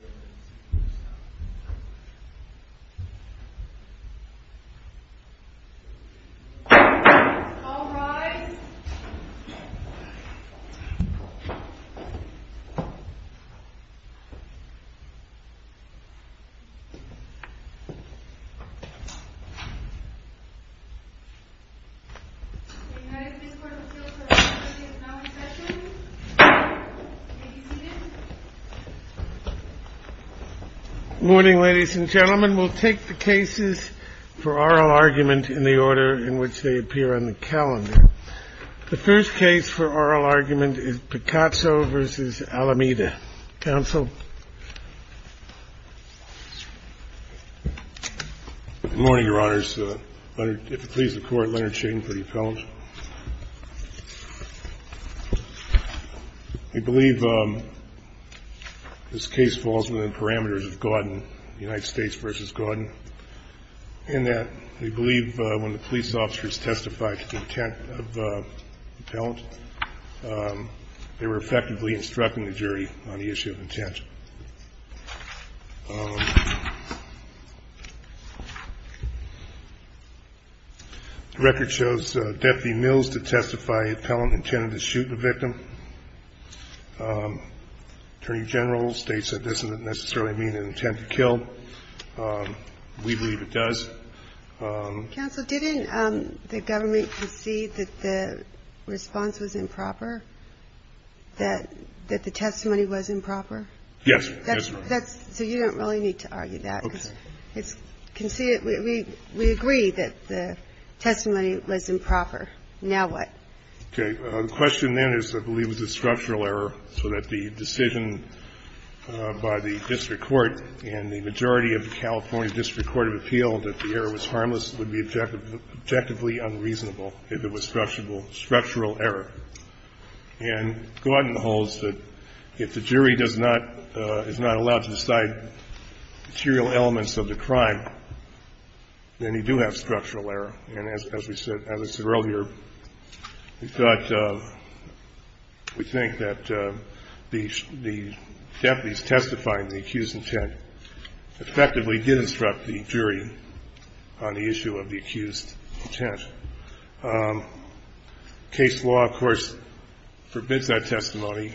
ASST Election Commercial All rise We have been in a noncesso session Did you... Morning ladies and gentlemen We'll take the cases for oral argument in the order in which they appear on the calendar The first case for oral argument is Picasso vs. Alameda Counsel Good morning your honors If it please the court Leonard Shane for your felons I believe this case falls within parameters of Gordon United States vs. Gordon in that we believe when the police officers testified to the intent of the felons they were effectively instructing the jury on the issue of intent Deputy Mills to testify the felon intended to shoot the victim Attorney General states that this doesn't necessarily mean an intent to kill We believe it does Counsel didn't the government concede that the response was improper that the testimony was improper Yes So you don't really need to argue that We agree that the testimony was improper Now what The question then is I believe it was a structural error so that the decision by the District Court and the majority of the California District Court of Appeal that the error was harmless would be objectively unreasonable if it was structural error and Gordon holds that if the jury is not allowed to decide material elements of the crime then you do have structural error and as I said earlier we thought we think that the deputies testifying the accused intent effectively did instruct the jury on the issue of the accused intent Case law of course forbids that testimony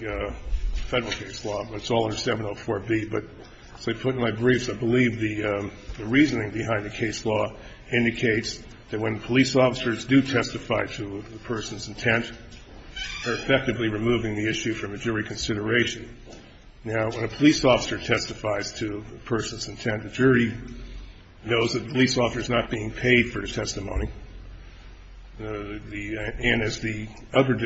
federal case law but it's all under 704B but as I put in my briefs I believe the reasoning behind the case law indicates that when police officers do testify to a person's intent they're effectively removing the issue from a jury consideration Now when a police officer testifies to a person's intent the jury knows that the police officer is not being paid for the testimony and as the other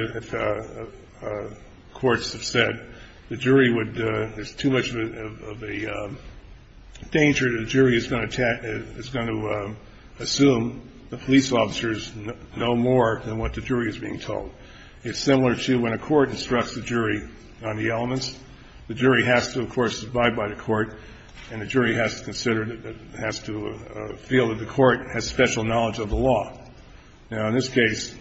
courts have said the jury would there's too much of a danger that the jury is going to assume the police officers know more than what the jury is being told it's similar to when a court instructs the jury on the elements the jury has to of course abide by the court and the jury has to consider has to feel that the court has special knowledge of the law now in this case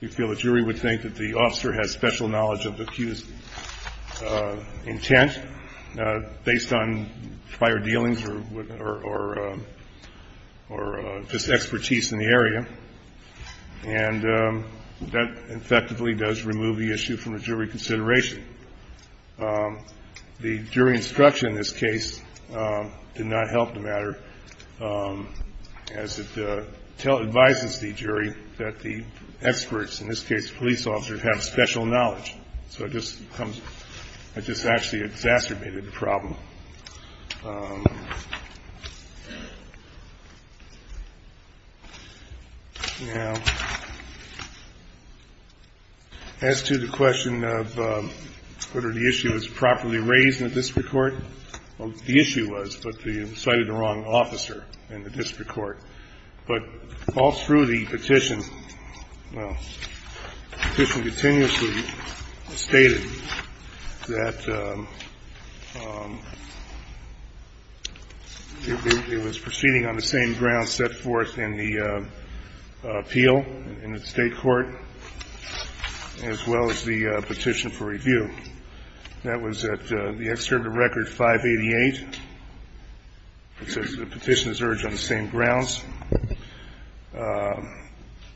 you feel the jury would think that the officer has special knowledge of the accused intent based on prior dealings or just expertise in the area and that effectively does remove the issue from a jury consideration the jury instruction in this case did not help the matter as it advises the jury that the experts in this case police officers have special knowledge so it just comes it just actually exacerbated the problem um now as to the question of whether the issue was properly raised in the district court the issue was but you cited the wrong officer in the district court but all through the petition well the petition continuously stated that um it was proceeding on the same ground set forth in the appeal in the state court as well as the petition for review that was at the excerpt of record 588 it says the petition is urged on the same grounds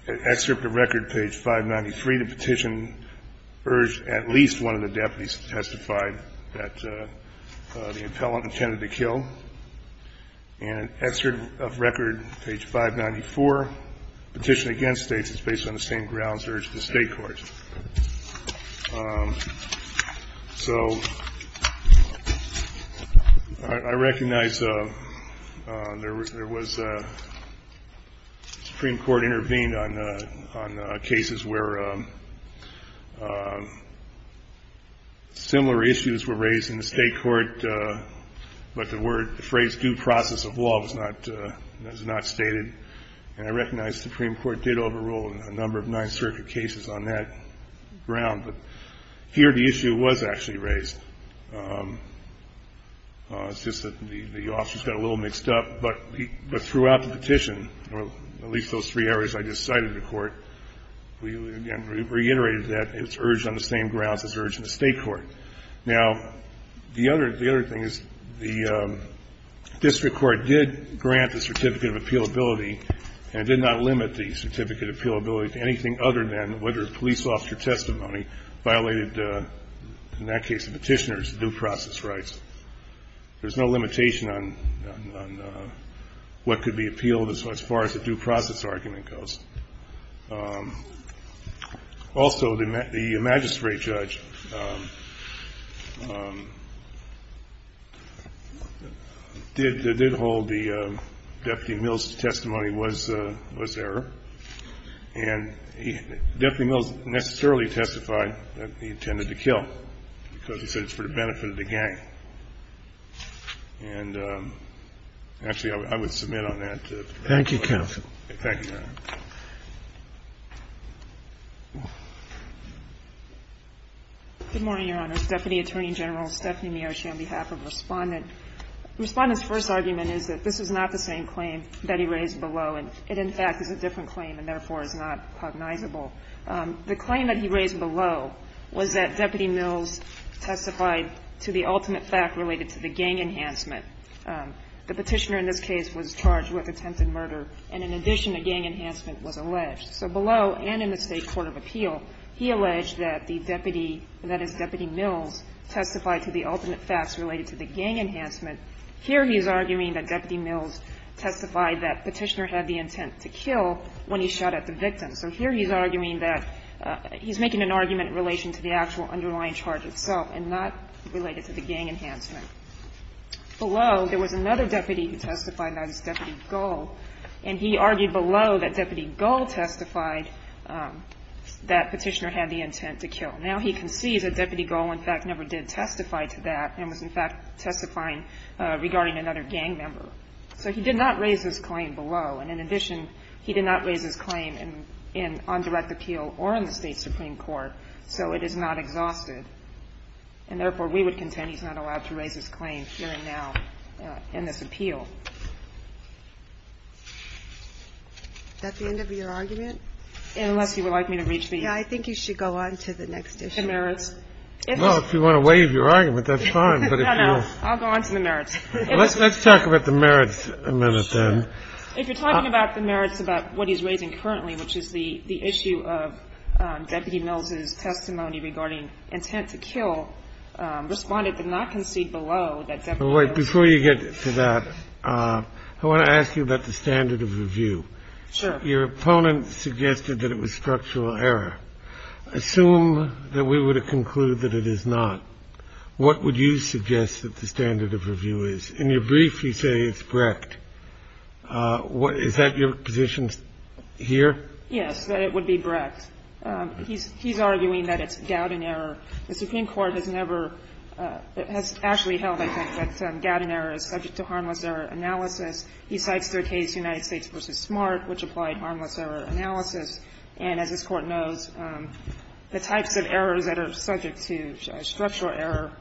excerpt of record page 593 the petition urged at least one of the the appellant intended to kill and excerpt of record page 594 petition against states is based on the same grounds urged in the state court um so I recognize there was supreme court intervened on cases where um similar issues were raised in the state court but the phrase due process of law was not stated and I recognize supreme court did overrule a number of nine circuit cases on that ground but here the issue was actually raised um the officers got a little mixed up but throughout the petition at least those three areas I just cited in court reiterated that it's urged on the same grounds as urged in the state court now the other thing is the district court did grant the certificate of appealability and did not limit the certificate of appealability to anything other than whether the police officer testimony violated in that case the petitioner's due process rights there's no limitation on what could be appealed as far as the due process argument goes um also the magistrate judge um um did hold the deputy mills testimony was error and deputy mills necessarily testified that he intended to kill because he said it was for the benefit of the gang and actually I would submit on that thank you counsel good morning your honor deputy attorney general Stephanie Miocci on behalf of the respondent the respondent's first argument is that this is not the same claim that he raised below it in fact is a different claim and therefore is not cognizable the claim that he raised below was that deputy mills testified to the ultimate fact related to the gang enhancement the petitioner in this case was charged with attempted murder and in addition a gang enhancement was alleged so below and in the state court of appeal he alleged that the deputy that is deputy mills testified to the ultimate facts related to the gang enhancement here he's arguing that deputy mills testified that petitioner had the intent to kill when he shot at the victim so here he's arguing that he's making an argument in relation to the actual underlying charge itself and not related to the gang enhancement below there was another deputy who testified that was deputy gull and he argued below that deputy gull testified that petitioner had the intent to kill now he concedes that deputy gull in fact never did testify to that and was in fact testifying regarding another gang member so he did not raise this claim below and in addition he did not raise this claim on direct appeal or in the state supreme court so it is not exhausted and therefore we would contend he's not allowed to raise this claim here and now in this appeal is that the end of your argument unless you would like me to reach the I think you should go on to the next issue well if you want to waive your argument that's fine I'll go on to the merits let's talk about the merits a minute then if you're talking about the merits about what he's raising currently which is the issue of deputy mills' testimony regarding intent to kill responded to not concede below that deputy gull before you get to that I want to ask you about the standard of review your opponent suggested that it was structural error assume that we would conclude that it is not what would you suggest that the standard of review is in your brief you say it's brecht is that your position here yes that it would be brecht he's arguing that it's gowden error the supreme court has never has actually held that gowden error is subject to harmless error analysis he cites their case united states vs smart which applied harmless error analysis and as this court knows the types of errors that are subject to structural error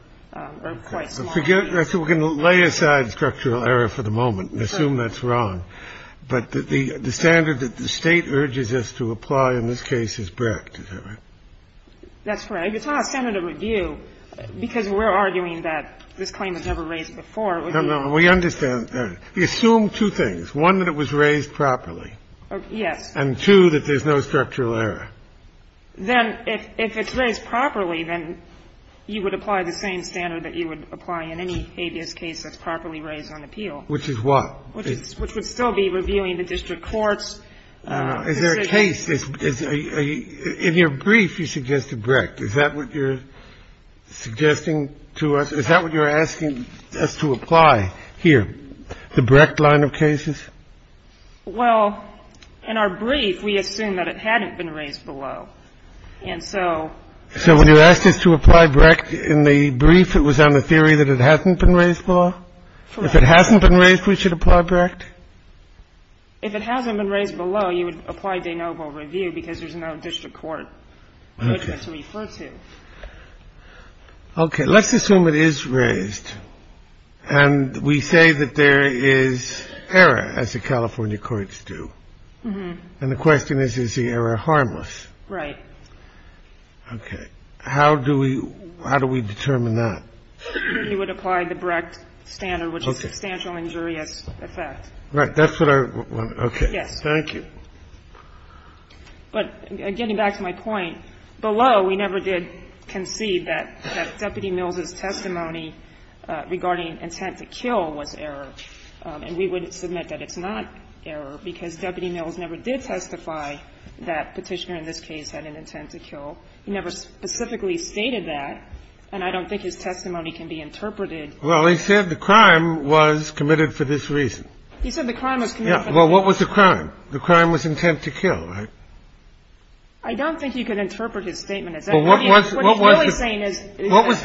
we're going to lay aside structural error for the moment assume that's wrong the standard that the state urges us to apply in this case is brecht that's right it's not a standard of review because we're arguing that this claim was never raised before we understand that we assume two things one that it was raised properly and two that there's no structural error then if it's raised properly then you would apply the same standard that you would apply in any habeas case that's properly raised on appeal which is what which would still be reviewing the district courts is there a case in your brief you suggested brecht is that what you're suggesting to us is that what you're asking us to apply here the brecht line of cases well in our brief we assume that it hadn't been raised below and so so when you asked us to apply brecht in the brief it was on the theory that it hadn't been raised below if it hasn't been raised we should apply brecht if it hasn't been raised below you would apply de noble review because there's no district court to refer to okay let's assume it is raised and we say that there is error as the california courts do and the question is is the error harmless right okay how do we determine that you would apply the brecht standard which is substantial injurious effect right that's what I thank you but getting back to my point below we never did concede that deputy mills' testimony regarding intent to kill was error and we would submit that it's not error because deputy mills never did testify that petitioner in this case had an intent to kill he never specifically stated that and I don't think his testimony can be interpreted well he said the crime was committed for this reason well what was the crime the crime was intent to kill I don't think you can interpret his statement as that what was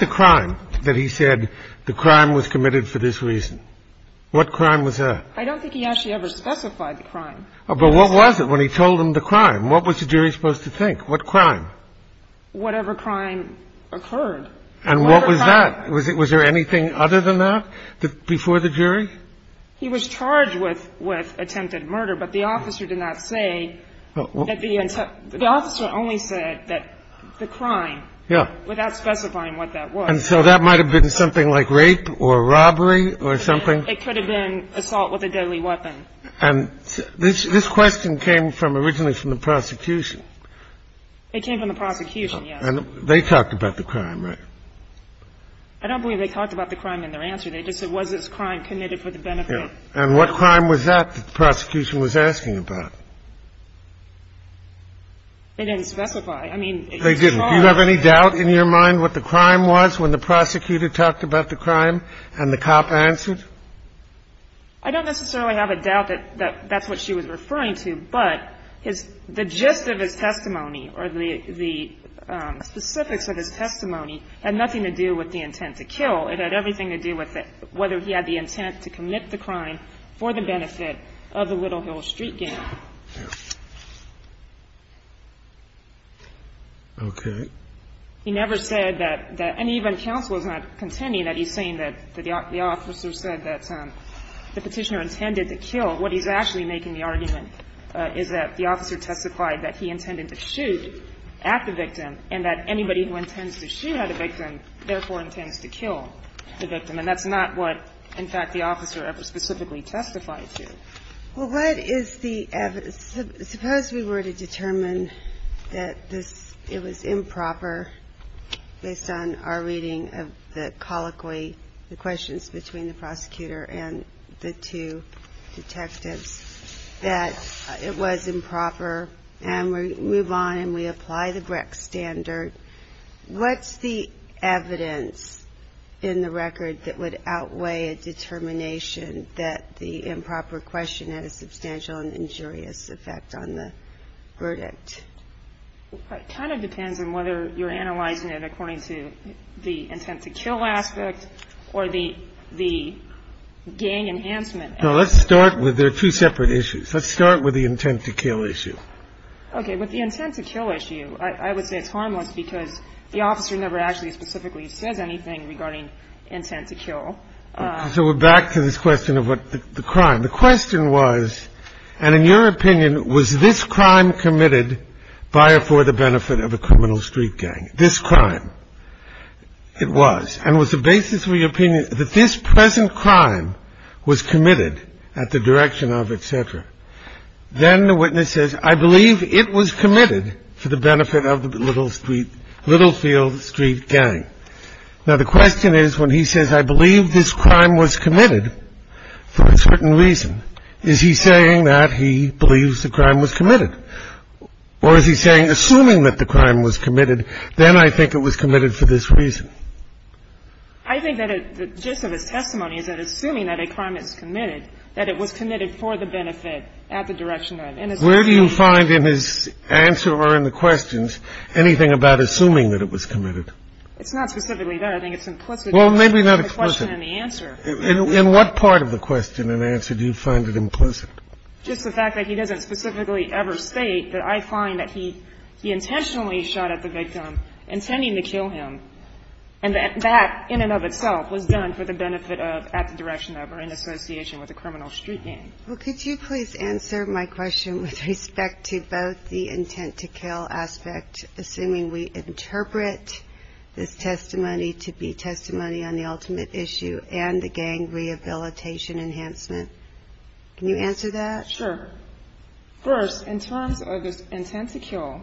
the crime that he said the crime was committed for this reason what crime was that I don't think he actually ever specified the crime but what was it when he told him the crime what was the jury supposed to think what crime whatever crime occurred and what was that was there anything other than that before the jury he was charged with attempted murder but the officer did not say the officer only said that the crime without specifying what that was and so that might have been something like rape or robbery or something it could have been assault with a deadly weapon and this question came from originally from the prosecution it came from the prosecution they talked about the crime I don't believe they talked about the crime in their answer they just said was this crime committed for the benefit and what crime was that the prosecution was asking about they didn't specify they didn't do you have any doubt in your mind what the crime was when the prosecutor talked about the crime and the cop answered I don't necessarily have a doubt that that's what she was referring to but the gist of his testimony or the specifics of his testimony had nothing to do with the intent to kill it had everything to do with whether he had the intent to commit the crime for the benefit of the Little Hill Street gang okay he never said that and even counsel is not contending that he's saying that the officer said that the petitioner intended to kill what he's actually making the argument is that the officer testified that he intended to shoot at the victim and that anybody who intends to shoot at a victim therefore intends to kill the victim and that's not what in fact the officer ever specifically testified to well what is the evidence suppose we were to determine that it was improper based on our reading of the colloquy the questions between the prosecutor and the two detectives that it was improper and we move on and we apply the Brecht standard what's the evidence in the record that would outweigh a determination that the improper question had a substantial and injurious effect on the verdict it kind of depends on whether you're analyzing it according to the intent to kill aspect or the gang enhancement there are two separate issues let's start with the intent to kill issue okay with the intent to kill issue I would say it's harmless because the officer never actually specifically says anything regarding intent to kill so we're back to this question of the crime, the question was and in your opinion was this crime committed by or for the benefit of a criminal street gang this crime it was and was the basis of your opinion that this present crime was committed at the direction of etc then the witness says I believe it was committed for the benefit of the little street little field street gang now the question is when he says I believe this crime was committed for a certain reason is he saying that he believes the crime was committed or is he saying assuming that the crime was committed then I think it was committed for this reason I think that the gist of his testimony is that assuming that a crime is committed that it was committed for the benefit at the direction of etc where do you find in his answer or in the questions anything about assuming that it was committed it's not specifically there I think it's implicit well maybe not implicit in what part of the question and answer do you find it implicit just the fact that he doesn't specifically ever state that I find that he he intentionally shot at the victim intending to kill him and that in and of itself was done for the benefit of at the direction of or in association with a criminal street gang well could you please answer my question with respect to both the intent to kill aspect assuming we interpret this testimony to be testimony on the ultimate issue and the gang rehabilitation enhancement can you answer that sure first in terms of this intent to kill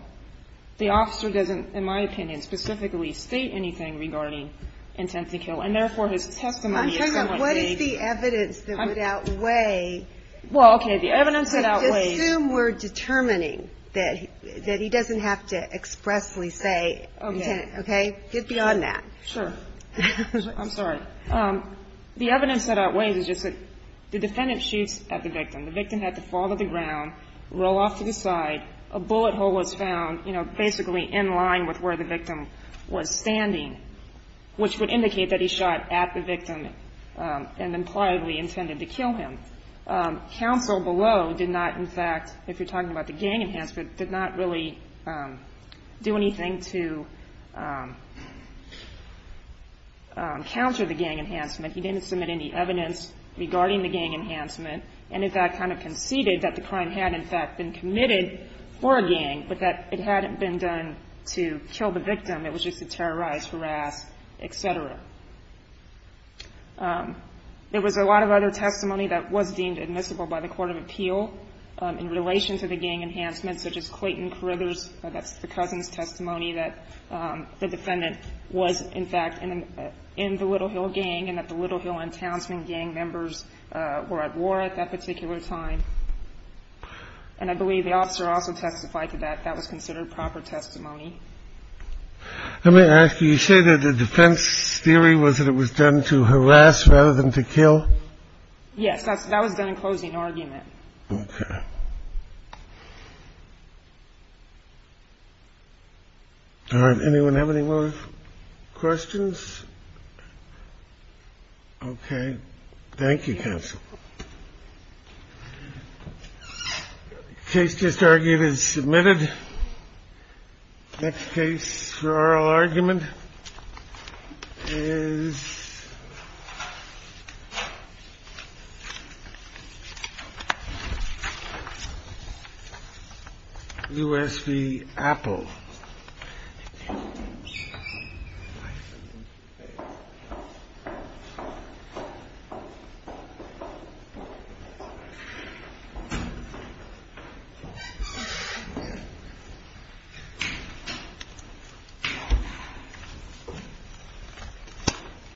the officer doesn't in my opinion specifically state anything regarding intent to kill and therefore his testimony is somewhat vague what is the evidence that would outweigh well okay the evidence that outweighs just assume we're determining that he doesn't have to expressly say okay get beyond that sure I'm sorry sure the evidence that outweighs is just that the defendant shoots at the victim the victim had to fall to the ground roll off to the side a bullet hole was found basically in line with where the victim was standing which would indicate that he shot at the victim and impliedly intended to kill him counsel below did not in fact if you're talking about the gang enhancement did not really do anything to counter the gang enhancement he didn't submit any evidence regarding the gang enhancement and in fact kind of conceded that the crime had in fact been committed for a gang but that it hadn't been done to kill the victim it was just to terrorize harass etc there was a lot of other testimony that was deemed admissible by the court of appeal in relation to the gang enhancement such as Clayton Carruthers that's the cousin's testimony that the defendant was in fact in the Little Hill gang and that the Little Hill enhancement gang members were at war at that particular time and I believe the officer also testified to that that was considered proper testimony let me ask you you say that the defense theory was that it was done to harass rather than to kill yes that was done in closing argument okay alright anyone have any more questions okay thank you counsel case just argued is submitted next case for oral argument is USP Apple